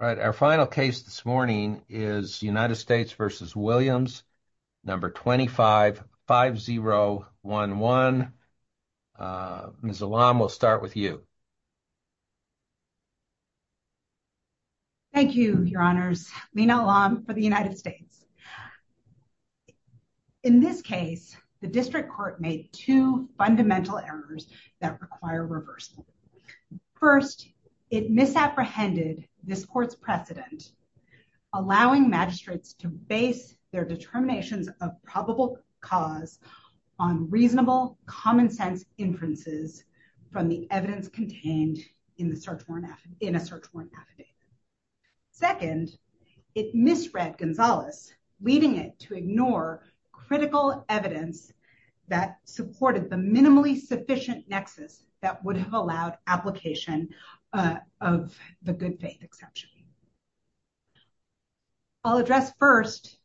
All right, our final case this morning is United States v. Williams, number 255011. Ms. Alam, we'll start with you. Thank you, your honors. Lina Alam for the United States. In this case, the district court made two fundamental errors that require reversal. First, it misapprehended this court's precedent, allowing magistrates to base their determinations of probable cause on reasonable common sense inferences from the evidence contained in the search warrant in a search warrant affidavit. Second, it misread Gonzalez, leading it to ignore critical evidence that supported the minimally sufficient nexus that would have allowed application of the good faith exception. I'll address first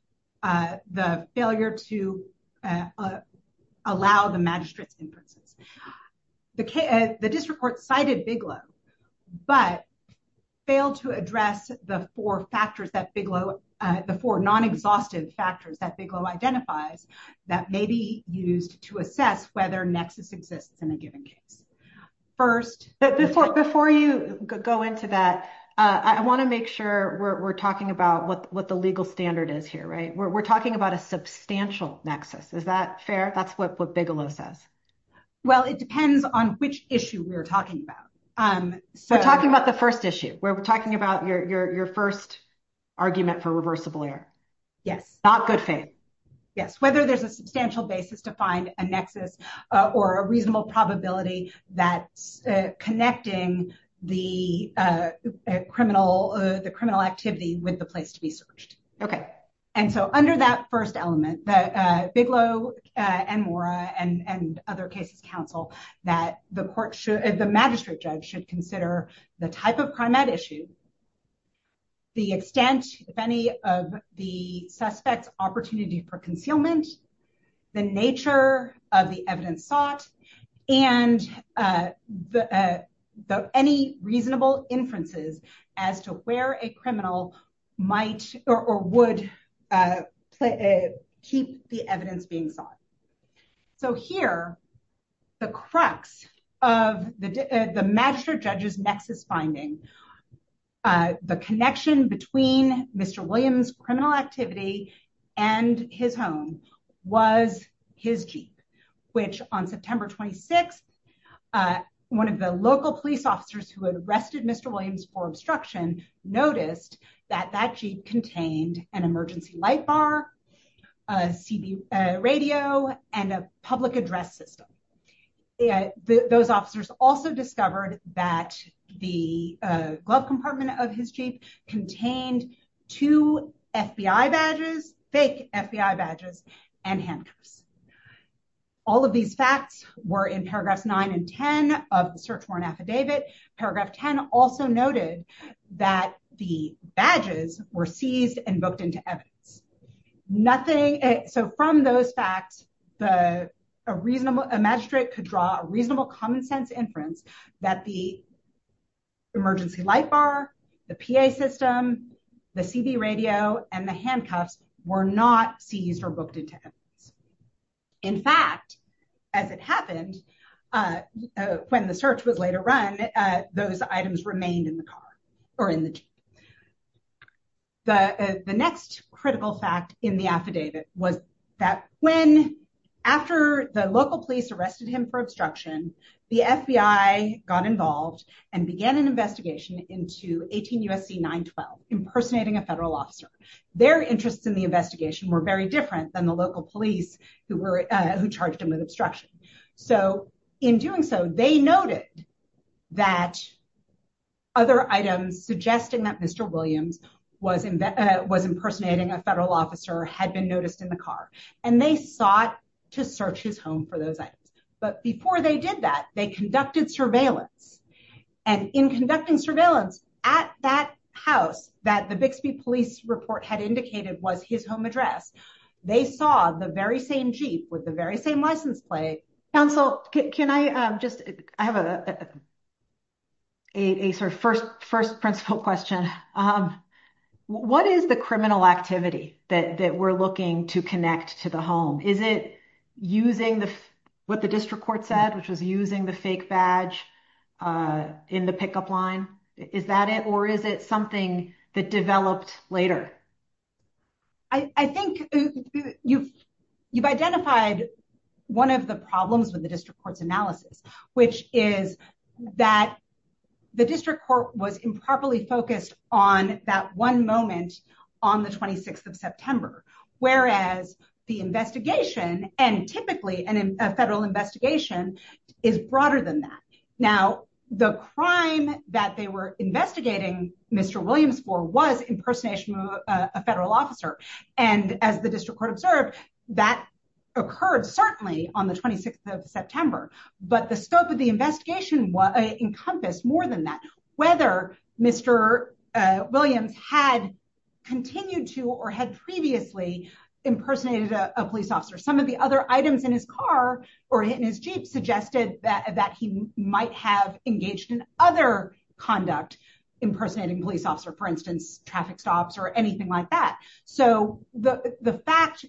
the failure to allow the magistrate's inferences. The district court cited Bigelow, but failed to address the four factors that Bigelow, the four non-exhaustive factors that Bigelow identifies that may be used to assess whether nexus exists in a given case. First, before you go into that, I want to make sure we're talking about what the legal standard is here, right? We're talking about a substantial nexus. Is that fair? That's what Bigelow says. Well, it depends on which issue we're talking about. So talking about the first issue where we're talking about your first argument for reversible error. Yes. Not good faith. Yes. Whether there's a substantial basis to find a nexus or a reasonable probability that's connecting the criminal activity with the place to be searched. Okay. And so under that first element, that Bigelow and Mora and other cases counsel that the court should, the magistrate judge should consider the type of crime at issue. The extent, if any, of the suspect's opportunity for concealment. The nature of the evidence sought and any reasonable inferences as to where a criminal might or would keep the evidence being sought. So here, the crux of the magistrate judge's nexus finding, the connection between Mr. Williams' criminal activity and his home was his Jeep. Which on September 26th, one of the local police officers who had arrested Mr. Williams for obstruction noticed that that Jeep contained an emergency light bar, a radio, and a public address system. Those officers also discovered that the glove compartment of his Jeep contained two FBI badges, fake FBI badges, and handcuffs. All of these facts were in paragraphs nine and 10 of the search warrant affidavit. Paragraph 10 also noted that the badges were seized and booked into evidence. Nothing, so from those facts, a magistrate could draw a reasonable common sense inference that the emergency light bar, the PA system, the CB radio, and the handcuffs were not seized or booked into evidence. In fact, as it happened, when the search was later run, those items remained in the car or in the Jeep. The next critical fact in the affidavit was that when, after the local police arrested him for obstruction, the FBI got involved and began an investigation into 18 USC 912, impersonating a federal officer. Their interests in the investigation were very different than the local police who were, who charged him with obstruction. So in doing so, they noted that other items suggesting that Mr. Williams was impersonating a federal officer had been noticed in the car, and they sought to search his home for those items. But before they did that, they conducted surveillance. And in conducting surveillance at that house that the Bixby police report had indicated was his home address, they saw the very same Jeep with the very same license plate. Counsel, can I just, I have a sort of first principle question. What is the criminal activity that we're looking to connect to the home? Is it using what the district court said, which was using the fake badge in the pickup line? Is that it? Or is it something that developed later? I think you've identified one of the problems with the district court's analysis, which is that the district court was improperly focused on that one moment on the 26th of September, whereas the investigation, and typically a federal investigation, is broader than that. Now, the crime that they were investigating Mr. Williams for was impersonation of a federal officer. And as the district court observed, that occurred certainly on the 26th of September. But the scope of the investigation encompassed more than that. Whether Mr. Williams had continued to or had previously impersonated a police officer, some of the other items in his car or in his Jeep suggested that he might have engaged in other conduct impersonating a police officer, for instance, traffic stops or anything like that. So the fact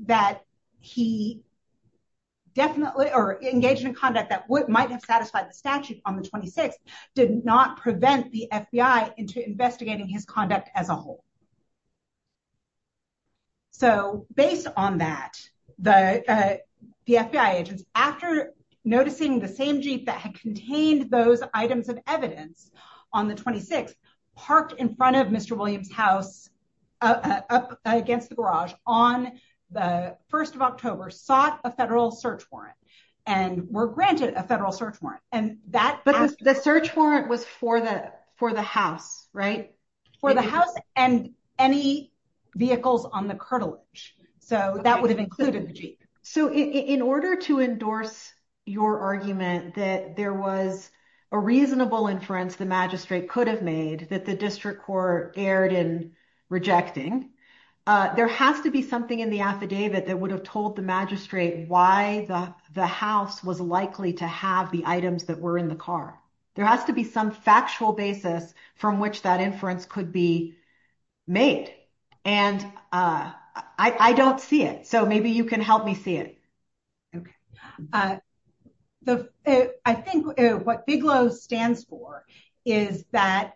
that he definitely or engaged in conduct that might have satisfied the statute on the 26th did not prevent the FBI into investigating his conduct as a whole. So based on that, the FBI agents, after noticing the same Jeep that had contained those items of evidence on the 26th, parked in front of Mr. Williams' house, up against the garage on the 1st of October, sought a federal search warrant and were granted a federal search warrant. And that... For the house, right? For the house and any vehicles on the cartilage. So that would have included the Jeep. So in order to endorse your argument that there was a reasonable inference the magistrate could have made that the district court erred in rejecting, there has to be something in the affidavit that would have told the magistrate why the house was likely to have the that were in the car. There has to be some factual basis from which that inference could be made. And I don't see it. So maybe you can help me see it. Okay. I think what Bigelow stands for is that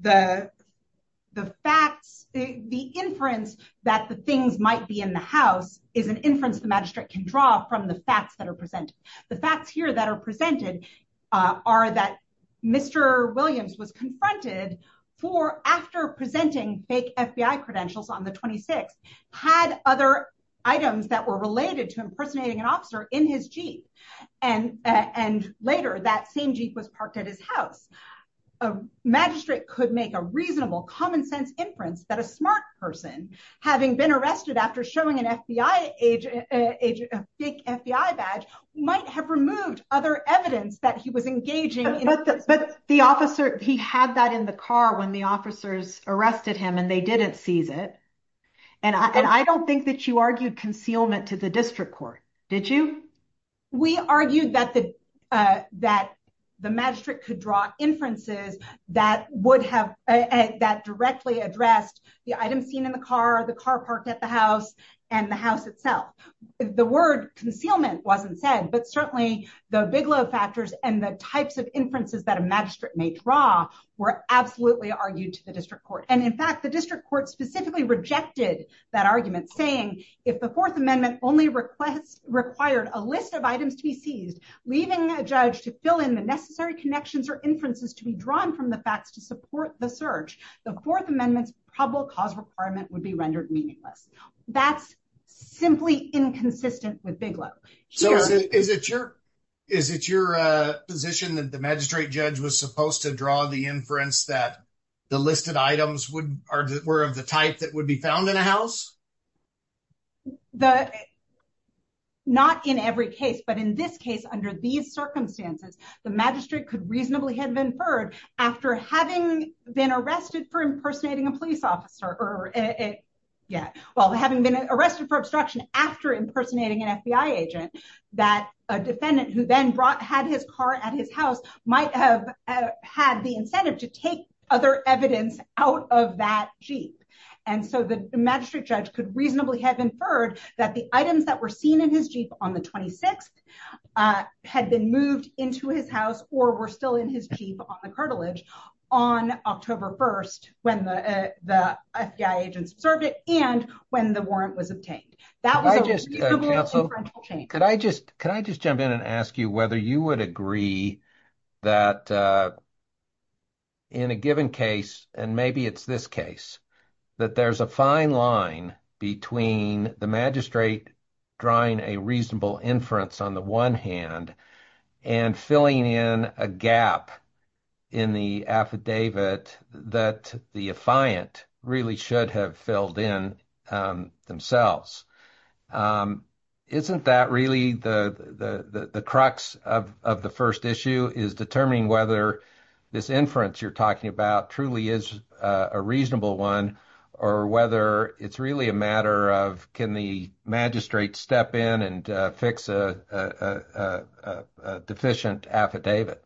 the facts, the inference that the things might be in the house is an inference the magistrate can draw from the facts that are presented. The facts here that are presented are that Mr. Williams was confronted for, after presenting fake FBI credentials on the 26th, had other items that were related to impersonating an officer in his Jeep. And later that same Jeep was parked at his house. A magistrate could make a reasonable common sense inference that a smart person, having been arrested after showing a fake FBI badge, might have removed other evidence that he was engaging. But the officer, he had that in the car when the officers arrested him and they didn't seize it. And I don't think that you argued concealment to the district court, did you? We argued that the magistrate could draw inferences that would have, that directly addressed the items seen in the car, the car parked at the house, and the house itself. The word concealment wasn't said, but certainly the Bigelow factors and the types of inferences that a magistrate may draw were absolutely argued to the district court. And in fact, the district court specifically rejected that argument saying, if the Fourth Amendment only required a list of items to be seized, leaving a judge to fill in the necessary connections or inferences to be drawn from the facts to support the search, the Fourth Amendment's probable cause would be rendered meaningless. That's simply inconsistent with Bigelow. So is it your position that the magistrate judge was supposed to draw the inference that the listed items were of the type that would be found in a house? Not in every case, but in this case, under these circumstances, the magistrate could reasonably have inferred after having been arrested for impersonating a police officer, or, yeah, well, having been arrested for obstruction after impersonating an FBI agent, that a defendant who then had his car at his house might have had the incentive to take other evidence out of that Jeep. And so the magistrate judge could reasonably have inferred that the items that were seen in his on the 26th had been moved into his house or were still in his Jeep on the cartilage on October 1st when the FBI agents observed it and when the warrant was obtained. Can I just jump in and ask you whether you would agree that in a given case, and maybe it's this case, that there's a fine line between the magistrate drawing a reasonable inference on the one hand and filling in a gap in the affidavit that the defiant really should have filled in themselves. Isn't that really the crux of the first issue is determining whether this inference you're talking about truly is a reasonable one, or whether it's really a matter of can the magistrate step in and fix a deficient affidavit?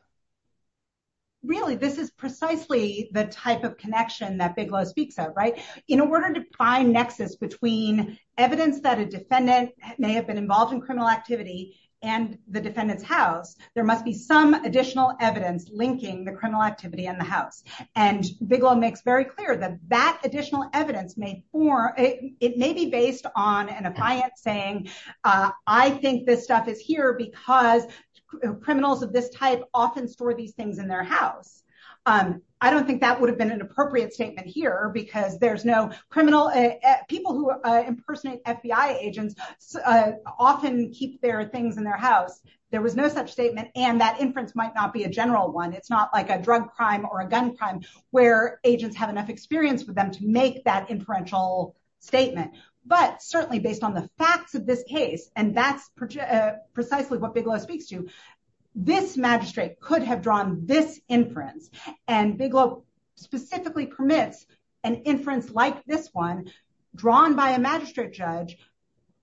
Really, this is precisely the type of connection that Bigelow speaks of, right? In order to find nexus between evidence that a defendant may have been involved in criminal activity and the defendant's house, there must be some additional evidence linking the criminal activity in the evidence. It may be based on an affiant saying, I think this stuff is here because criminals of this type often store these things in their house. I don't think that would have been an appropriate statement here because there's no criminal people who impersonate FBI agents often keep their things in their house. There was no such statement and that inference might not be a general one. It's not like a drug crime or a gun crime where agents have enough experience with them to make that inferential statement. But certainly based on the facts of this case, and that's precisely what Bigelow speaks to, this magistrate could have drawn this inference. And Bigelow specifically permits an inference like this one drawn by a magistrate judge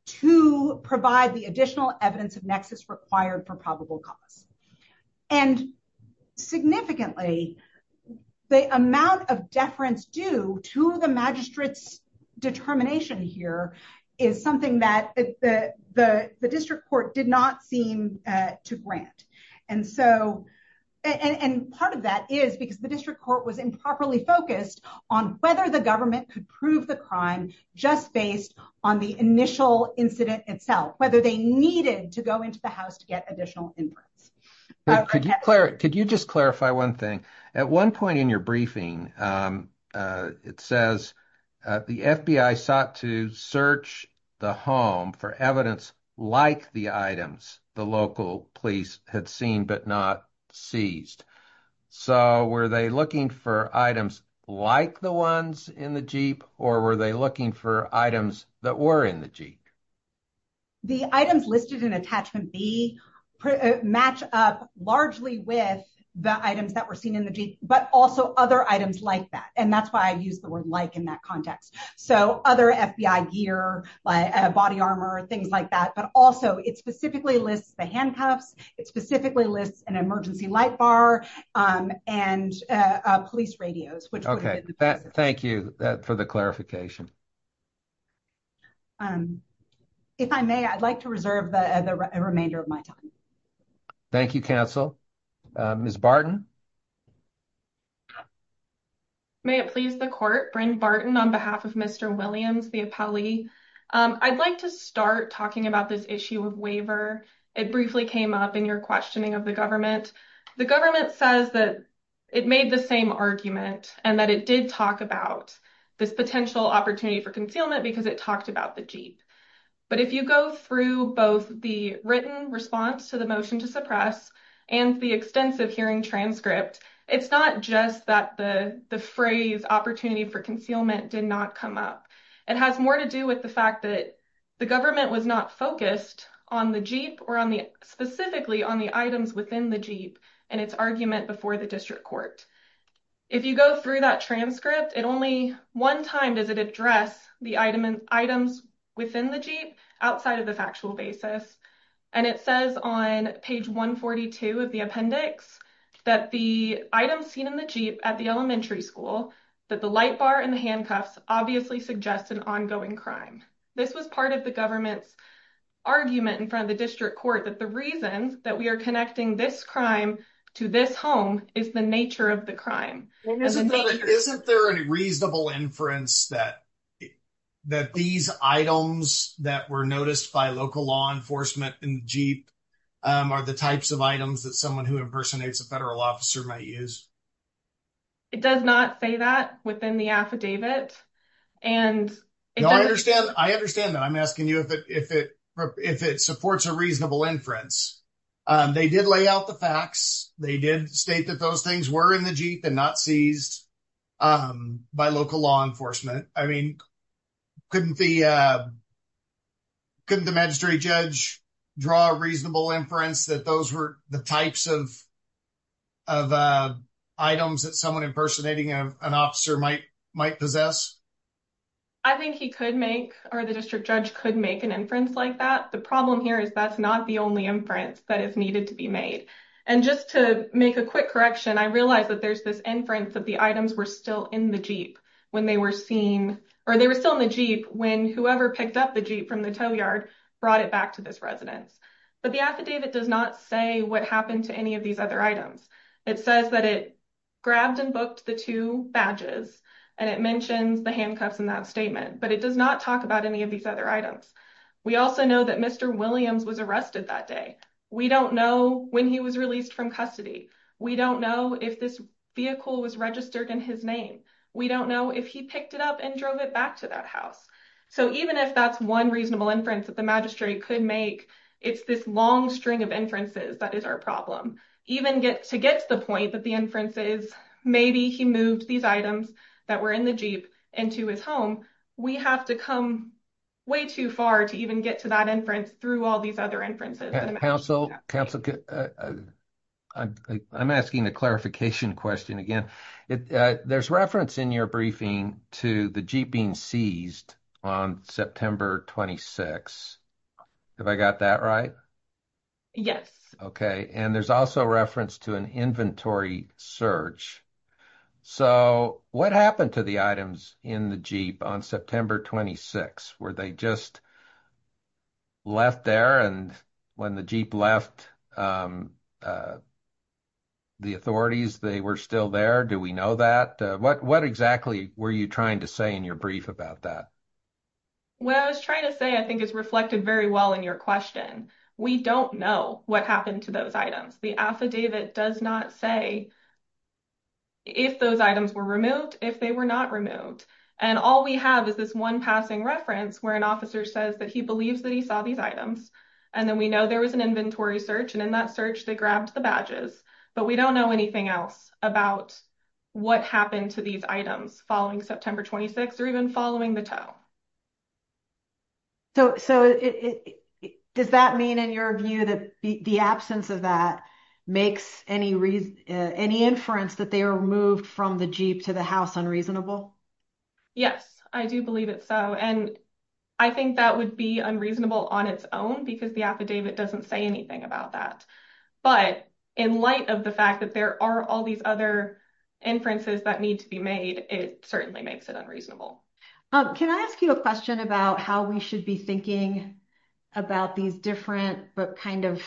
to provide the additional evidence of nexus required for probable cause. And significantly, the amount of deference due to the magistrate's determination here is something that the district court did not seem to grant. And part of that is because the district court was improperly focused on whether the government could prove the crime just based on the initial incident itself, whether they needed to go into the house to get additional inference. Could you just clarify one thing? At one point in your briefing, it says the FBI sought to search the home for evidence like the items the local police had seen but not seized. So were they looking for items like the ones in the Jeep or were they looking for items that were in the Jeep? The items listed in attachment B match up largely with the items that were seen in the Jeep, but also other items like that. And that's why I use the word like in that context. So other FBI gear, body armor, things like that. But also it specifically lists the handcuffs. It specifically lists an emergency light bar and police radios. Okay, thank you for the clarification. If I may, I'd like to reserve the remainder of my time. Thank you, counsel. Ms. Barton. May it please the court. Bryn Barton on behalf of Mr. Williams, the appellee. I'd like to start talking about this issue of waiver. It briefly came up in your questioning of the government. The government says that it made the same argument and that it did talk about this potential opportunity for concealment because it talked about the Jeep. But if you go through both the written response to the motion to suppress and the extensive hearing transcript, it's not just that the phrase opportunity for concealment did not come up. It has more to do with the fact that the government was not focused on the Jeep or specifically on the items within the Jeep and its argument before the district court. If you go through that transcript, it only one time does it address the items within the Jeep outside of the factual basis. And it says on page 142 of the appendix that the items seen in the Jeep at the elementary school that the light bar and the handcuffs obviously suggest an ongoing crime. This was part of the government's argument in front of the district court that the reasons that we are connecting this crime to this home is the nature of the crime. Isn't there any reasonable inference that that these items that were noticed by local law enforcement in the Jeep are the types of items that someone who impersonates a federal officer might use? It does not say that within the affidavit. I understand that. I'm asking you if it supports a reasonable inference. They did lay out the facts. They did state that those things were in the Jeep and not seized by local law enforcement. I mean, couldn't the magistrate judge draw a reasonable inference that those were the types of items that someone impersonating an officer might possess? I think he could make or the district judge could make an inference like that. The problem here is that's not the only inference that is needed to be made. Just to make a quick correction, I realize that there's this inference that the items were still in the Jeep when they were seen or they were still in the Jeep when whoever picked up the Jeep from the tow yard brought it back to this residence. The affidavit does not say what happened to any of these other items. It says that it grabbed and booked the two badges and it mentions the handcuffs in that statement, but it does not talk about any of these other items. We also know that Mr. Williams was arrested that day. We don't know when he was released from custody. We don't know if this vehicle was registered in his name. We don't know if he picked it up and drove it back to that house. So even if that's one reasonable inference that the magistrate could make, it's this long string of inferences that is our problem. Even to get to the point that the inference is maybe he moved these items that were in the Jeep into his home, we have to come way too far to even get to that inference through all these other inferences. I'm asking the clarification question again. There's reference in your briefing to the Jeep being seized on September 26th. Have I got that right? Yes. Okay. And there's also reference to an inventory search. So what happened to the items in the Jeep on September 26th? Were they just left there and when the Jeep left the authorities they were still there? Do we know that? What exactly were you trying to say in your brief about that? What I was trying to say I think is reflected very well in your question. We don't know what happened to those items. The affidavit does not say if those items were removed, if they were not removed. And all we have is this one passing reference where an officer says that he believes that he saw these items and then we know there was an inventory search and in that search they grabbed the badges. But we don't know anything else about what happened to these items following September 26th or even following the tow. So does that mean in your view that the absence of that makes any inference that they were moved from the Jeep to the house unreasonable? Yes. I do believe it's so. And I think that would be unreasonable on its own because the affidavit doesn't say anything about that. But in light of the fact that there are all these other inferences that need to be made it certainly makes it unreasonable. Can I ask you a question about how we should be thinking about these different but kind of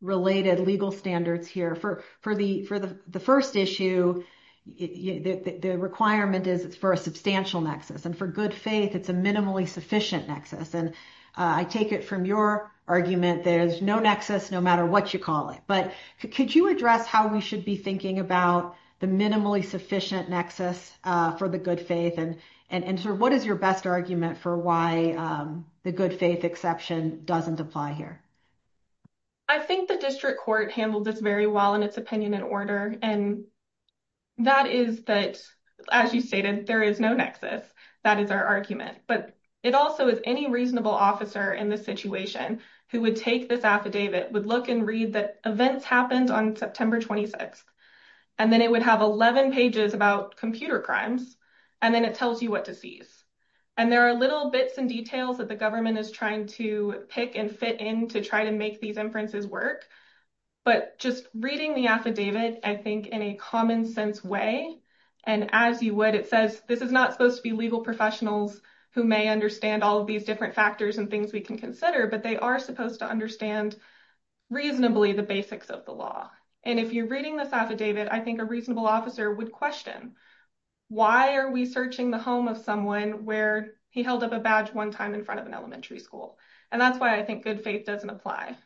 related legal standards here? For the first issue, the requirement is it's for a substantial nexus. And for good faith it's a minimally sufficient nexus. And I take it from your argument, there's no nexus no matter what you call it. But could you address how we should be thinking about the minimally sufficient nexus for the good faith? And what is your best argument for why the good faith exception doesn't apply here? I think the district court handled this very well in its opinion and order. And that is that, as you stated, there is no nexus. That is our argument. But it also is any reasonable officer in this situation who would take this affidavit would look and read that on September 26th. And then it would have 11 pages about computer crimes. And then it tells you what to seize. And there are little bits and details that the government is trying to pick and fit in to try to make these inferences work. But just reading the affidavit, I think, in a common sense way, and as you would, it says this is not supposed to be legal professionals who may understand all of these different factors and things we can consider, but they are supposed to understand reasonably the basics of the law. And if you're reading this affidavit, I think a reasonable officer would question why are we searching the home of someone where he held up a badge one time in front of an elementary school? And that's why I think good faith doesn't apply.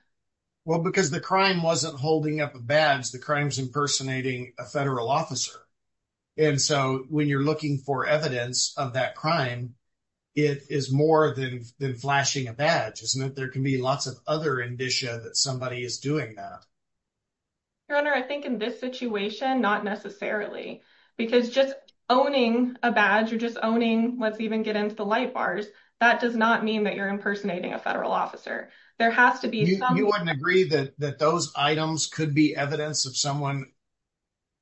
Well, because the crime wasn't holding up a badge, the crime's impersonating a federal officer. And so when you're looking for evidence of that crime, it is more than flashing a badge, isn't it? There can be lots of other indicia that somebody is doing that. Your Honor, I think in this situation, not necessarily. Because just owning a badge or just owning, let's even get into the light bars, that does not mean that you're impersonating a federal officer. There has to be some- You wouldn't agree that those items could be evidence of someone,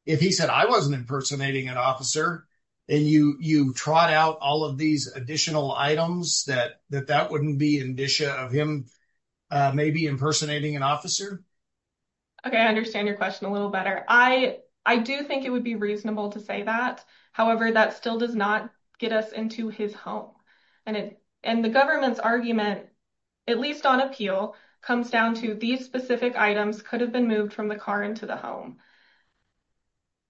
if he said, I wasn't impersonating an officer, and you trot out all of these additional items, that that wouldn't be indicia of him maybe impersonating an officer? Okay, I understand your question a little better. I do think it would be reasonable to say that. However, that still does not get us into his home. And the government's argument, at least on appeal, comes down to these specific items could have been moved from the car into the home.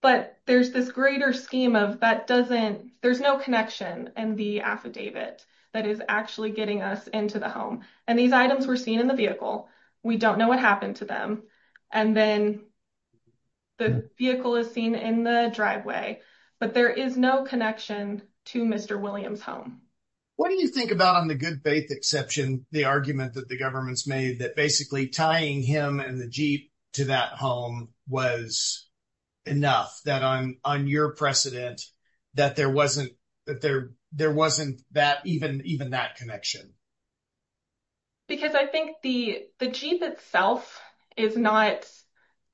But there's this greater scheme of that doesn't- There's no connection in the affidavit that is actually getting us into the home. And these items were seen in the vehicle. We don't know what happened to them. And then the vehicle is seen in the driveway. But there is no connection to Mr. Williams' home. What do you think about on the good faith exception, the argument that the government's made that basically tying him and the Jeep to that home was enough, that on your precedent, that there wasn't even that connection? Because I think the Jeep itself is not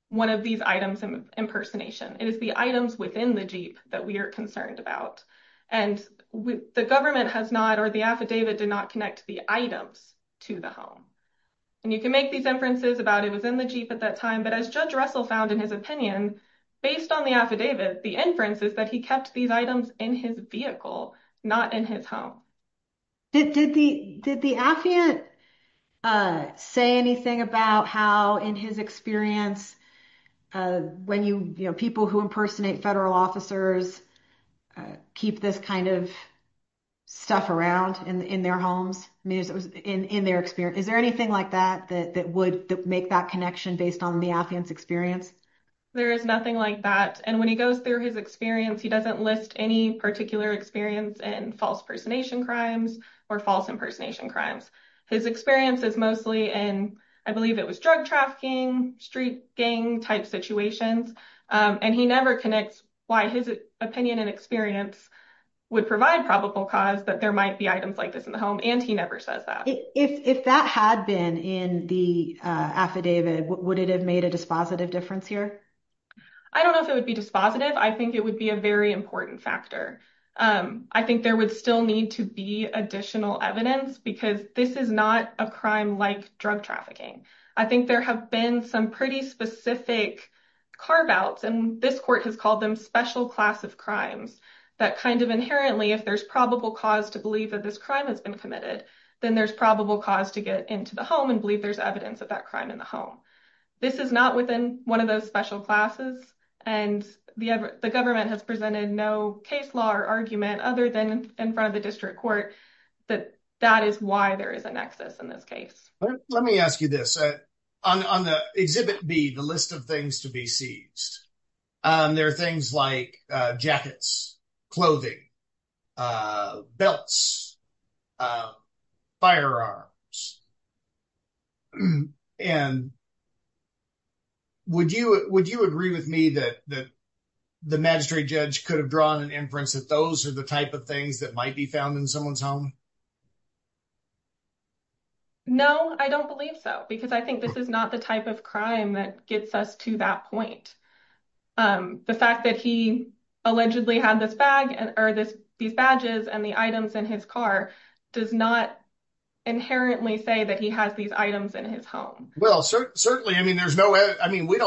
one of these items of impersonation. It is the items within the Jeep that we are concerned about. And the government has not, or the affidavit, did not connect the items to the home. And you can make these inferences about it was in the time. But as Judge Russell found in his opinion, based on the affidavit, the inference is that he kept these items in his vehicle, not in his home. Did the affiant say anything about how, in his experience, people who impersonate federal officers keep this kind of stuff around in their homes, in their experience? Is there anything like that that would make that connection based on the affiant's experience? There is nothing like that. And when he goes through his experience, he doesn't list any particular experience in false impersonation crimes or false impersonation crimes. His experience is mostly in, I believe it was drug trafficking, street gang type situations. And he never connects why his opinion and experience would provide probable cause that there might be items like this in the home. And he never says that. If that had been in the affidavit, would it have made a dispositive difference here? I don't know if it would be dispositive. I think it would be a very important factor. I think there would still need to be additional evidence because this is not a crime like drug trafficking. I think there have been some pretty specific carve-outs, and this court has called them special class of crimes, that kind of inherently, if there's probable cause to believe that this crime has been committed, then there's probable cause to get into the home and believe there's evidence of that crime in the home. This is not within one of those special classes, and the government has presented no case law or argument other than in front of the district court that that is why there is a nexus in this case. Let me ask you this. On the Exhibit B, the list of things to be seized, there are things like jackets, clothing, belts, firearms. Would you agree with me that the magistrate judge could have drawn an inference that those are the type of things that might be found in someone's home? No, I don't believe so, because I think this is not the type of crime that gets us to that point. The fact that he allegedly had these badges and the items in his car does not inherently say that he has these items in his home. We don't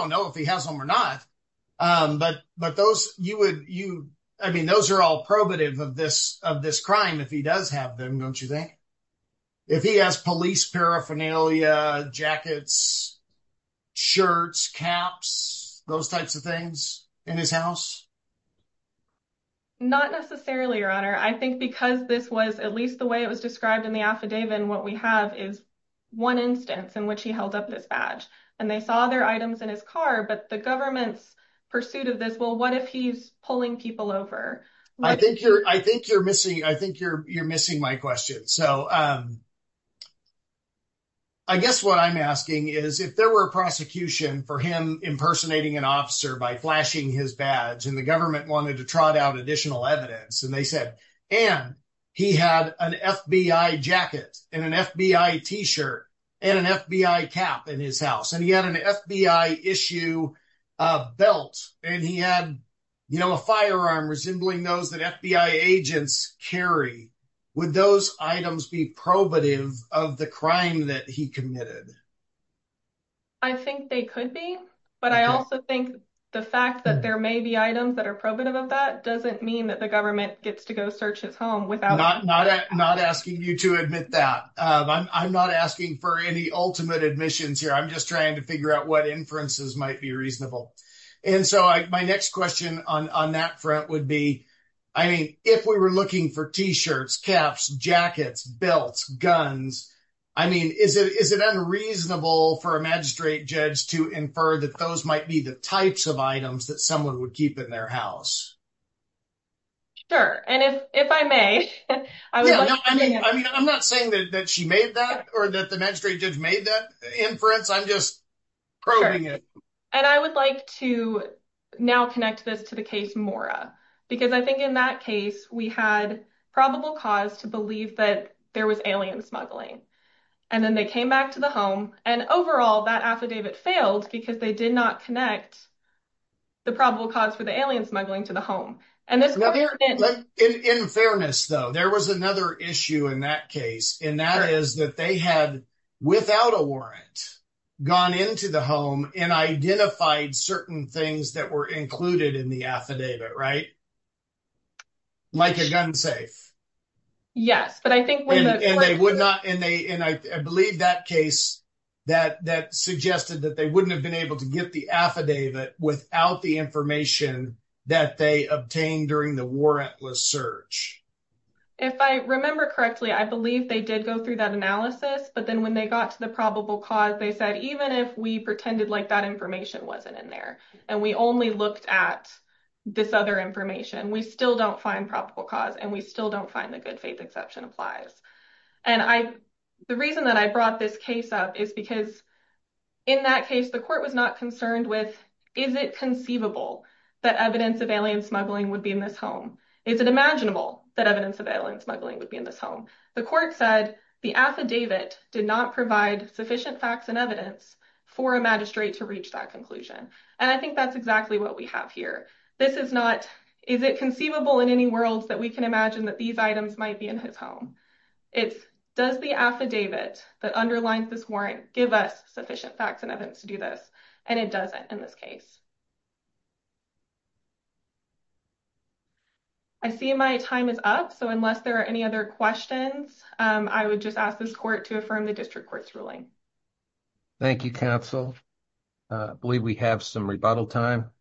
know if he has them or not, but those are all probative of this crime if he does have them, don't you think? If he has police paraphernalia, jackets, shirts, caps, those types of things in his house? Not necessarily, your honor. I think because this was at least the way it was described in the affidavit, what we have is one instance in which he held up this badge, and they saw their items in his car, but the government's pursuit of this, well, what if he's pulling people over? I think you're missing my question. So, I guess what I'm asking is, if there were a prosecution for him impersonating an officer by flashing his badge, and the government wanted to trot out additional evidence, and they said, and he had an FBI jacket and an FBI t-shirt and an FBI cap in his house, and he had an FBI issue belt, and he had, you know, a firearm resembling those that FBI agents carry, would those items be probative of the crime that he committed? I think they could be, but I also think the fact that there may be items that are probative of that doesn't mean that the government gets to go search his home without... Not asking you to admit that. I'm not asking for any ultimate admissions here. I'm just trying to figure out what inferences might be reasonable. And so, my next question on that front would be, I mean, if we were looking for t-shirts, caps, jackets, belts, guns, I mean, is it unreasonable for a magistrate judge to infer that those might be the types of items that someone would keep in their house? Sure, and if I may... I mean, I'm not saying that she made that or that the magistrate judge made that inference. I'm just probing it. And I would like to now connect this to the case Mora, because I think in that case, we had probable cause to believe that there was alien smuggling, and then they came back to the home, and overall, that affidavit failed because they did not connect the probable cause for the alien smuggling to the home. In fairness, though, there was another issue in that case, and that is that they had, without a warrant, gone into the home and identified certain things that were included in the affidavit, right? Like a gun safe. Yes, but I think... And they would not... And I believe that case that suggested that they wouldn't have been able to get the affidavit without the information that they obtained during the warrantless search. If I remember correctly, I believe they did go through that analysis, but then when they got to the probable cause, they said, even if we pretended like that information wasn't in there, and we only looked at this other information, we still don't find probable cause, and we still don't find the good faith exception applies. And the reason that I brought this case up is because in that case, the court was not concerned with, is it conceivable that evidence of alien smuggling would be in this home? Is it imaginable that evidence of alien smuggling would be in this home? The court said the affidavit did not provide sufficient facts and evidence for a magistrate to reach that conclusion. And I think that's exactly what we have here. This is not, is it conceivable in any worlds that we can imagine that these items might be in his home? It's, does the affidavit that underlines this warrant give us sufficient facts and evidence to do this? And it doesn't in this case. I see my time is up, so unless there are any other questions, I would just ask this court to affirm the district court's ruling. Thank you, counsel. I believe we have some rebuttal time.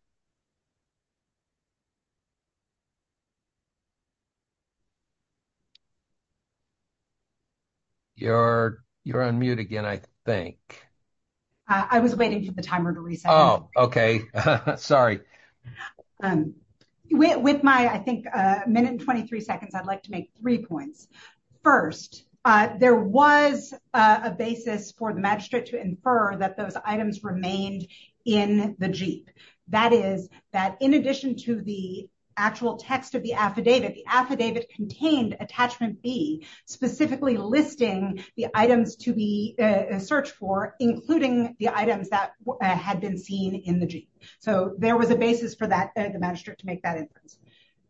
You're on mute again, I think. I was waiting for the timer to reset. Oh, okay. Sorry. With my, I think, minute and 23 seconds, I'd like to make three points. First, there was a basis for the magistrate to infer that those items remained in the jeep. That is, that in addition to the actual text of the affidavit, the affidavit contained attachment B, specifically listing the items to be searched for, including the items that had been seen in the jeep. So there was a basis for that, the magistrate to make that inference.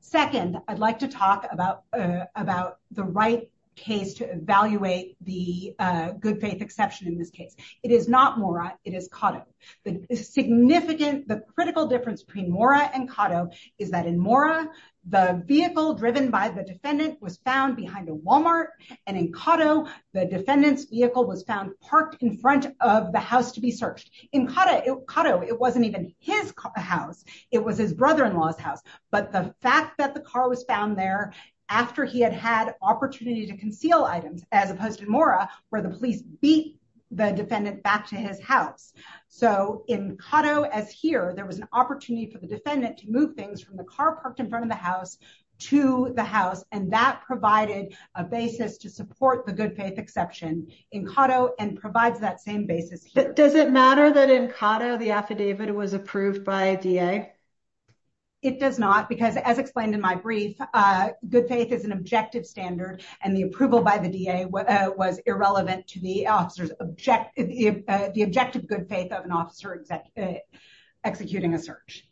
Second, I'd like to talk about the right case to evaluate the good faith exception in this case. It is not Mora, it is Cotto. The significant, the critical difference between Mora and Cotto is that in Mora, the vehicle driven by the defendant was found behind a Walmart, and in Cotto, the defendant's vehicle was found parked in front of the house to be searched. In Cotto, it wasn't even his house, it was his brother-in-law's house. But the fact that the car was found there after he had had opportunity to conceal items, as opposed to Mora, where the police beat the defendant back to his house. So in Cotto, as here, there was an opportunity for the defendant to move things from the car parked in front of the house to the house, and that provided a basis to support the good faith exception in Cotto and provides that same basis here. Does it matter that in Cotto, the affidavit was approved by a DA? It does not, because as explained in my brief, good faith is an objective standard, and the approval by the DA was irrelevant to the objective good faith of an officer executing a search.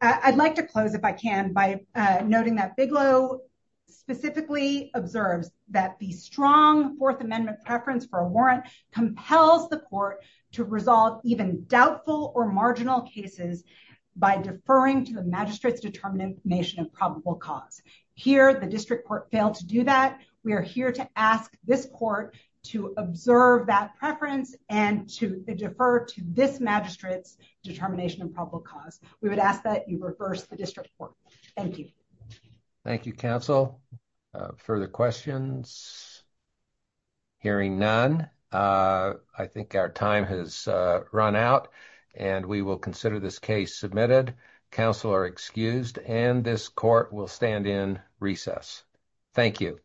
I'd like to close, if I can, by noting that Bigelow specifically observes that the strong Fourth Amendment preference for a warrant compels the court to resolve even doubtful or marginal cases by deferring to the magistrate's determination of probable cause. Here, the district court failed to do that. We are here to ask this court to observe that preference and to defer to this magistrate's determination of probable cause. We would ask that you reverse the district court. Thank you. Thank you, counsel. Further questions? Hearing none, I think our time has run out, and we will consider this case submitted. Counsel are excused, and this court will stand in recess. Thank you.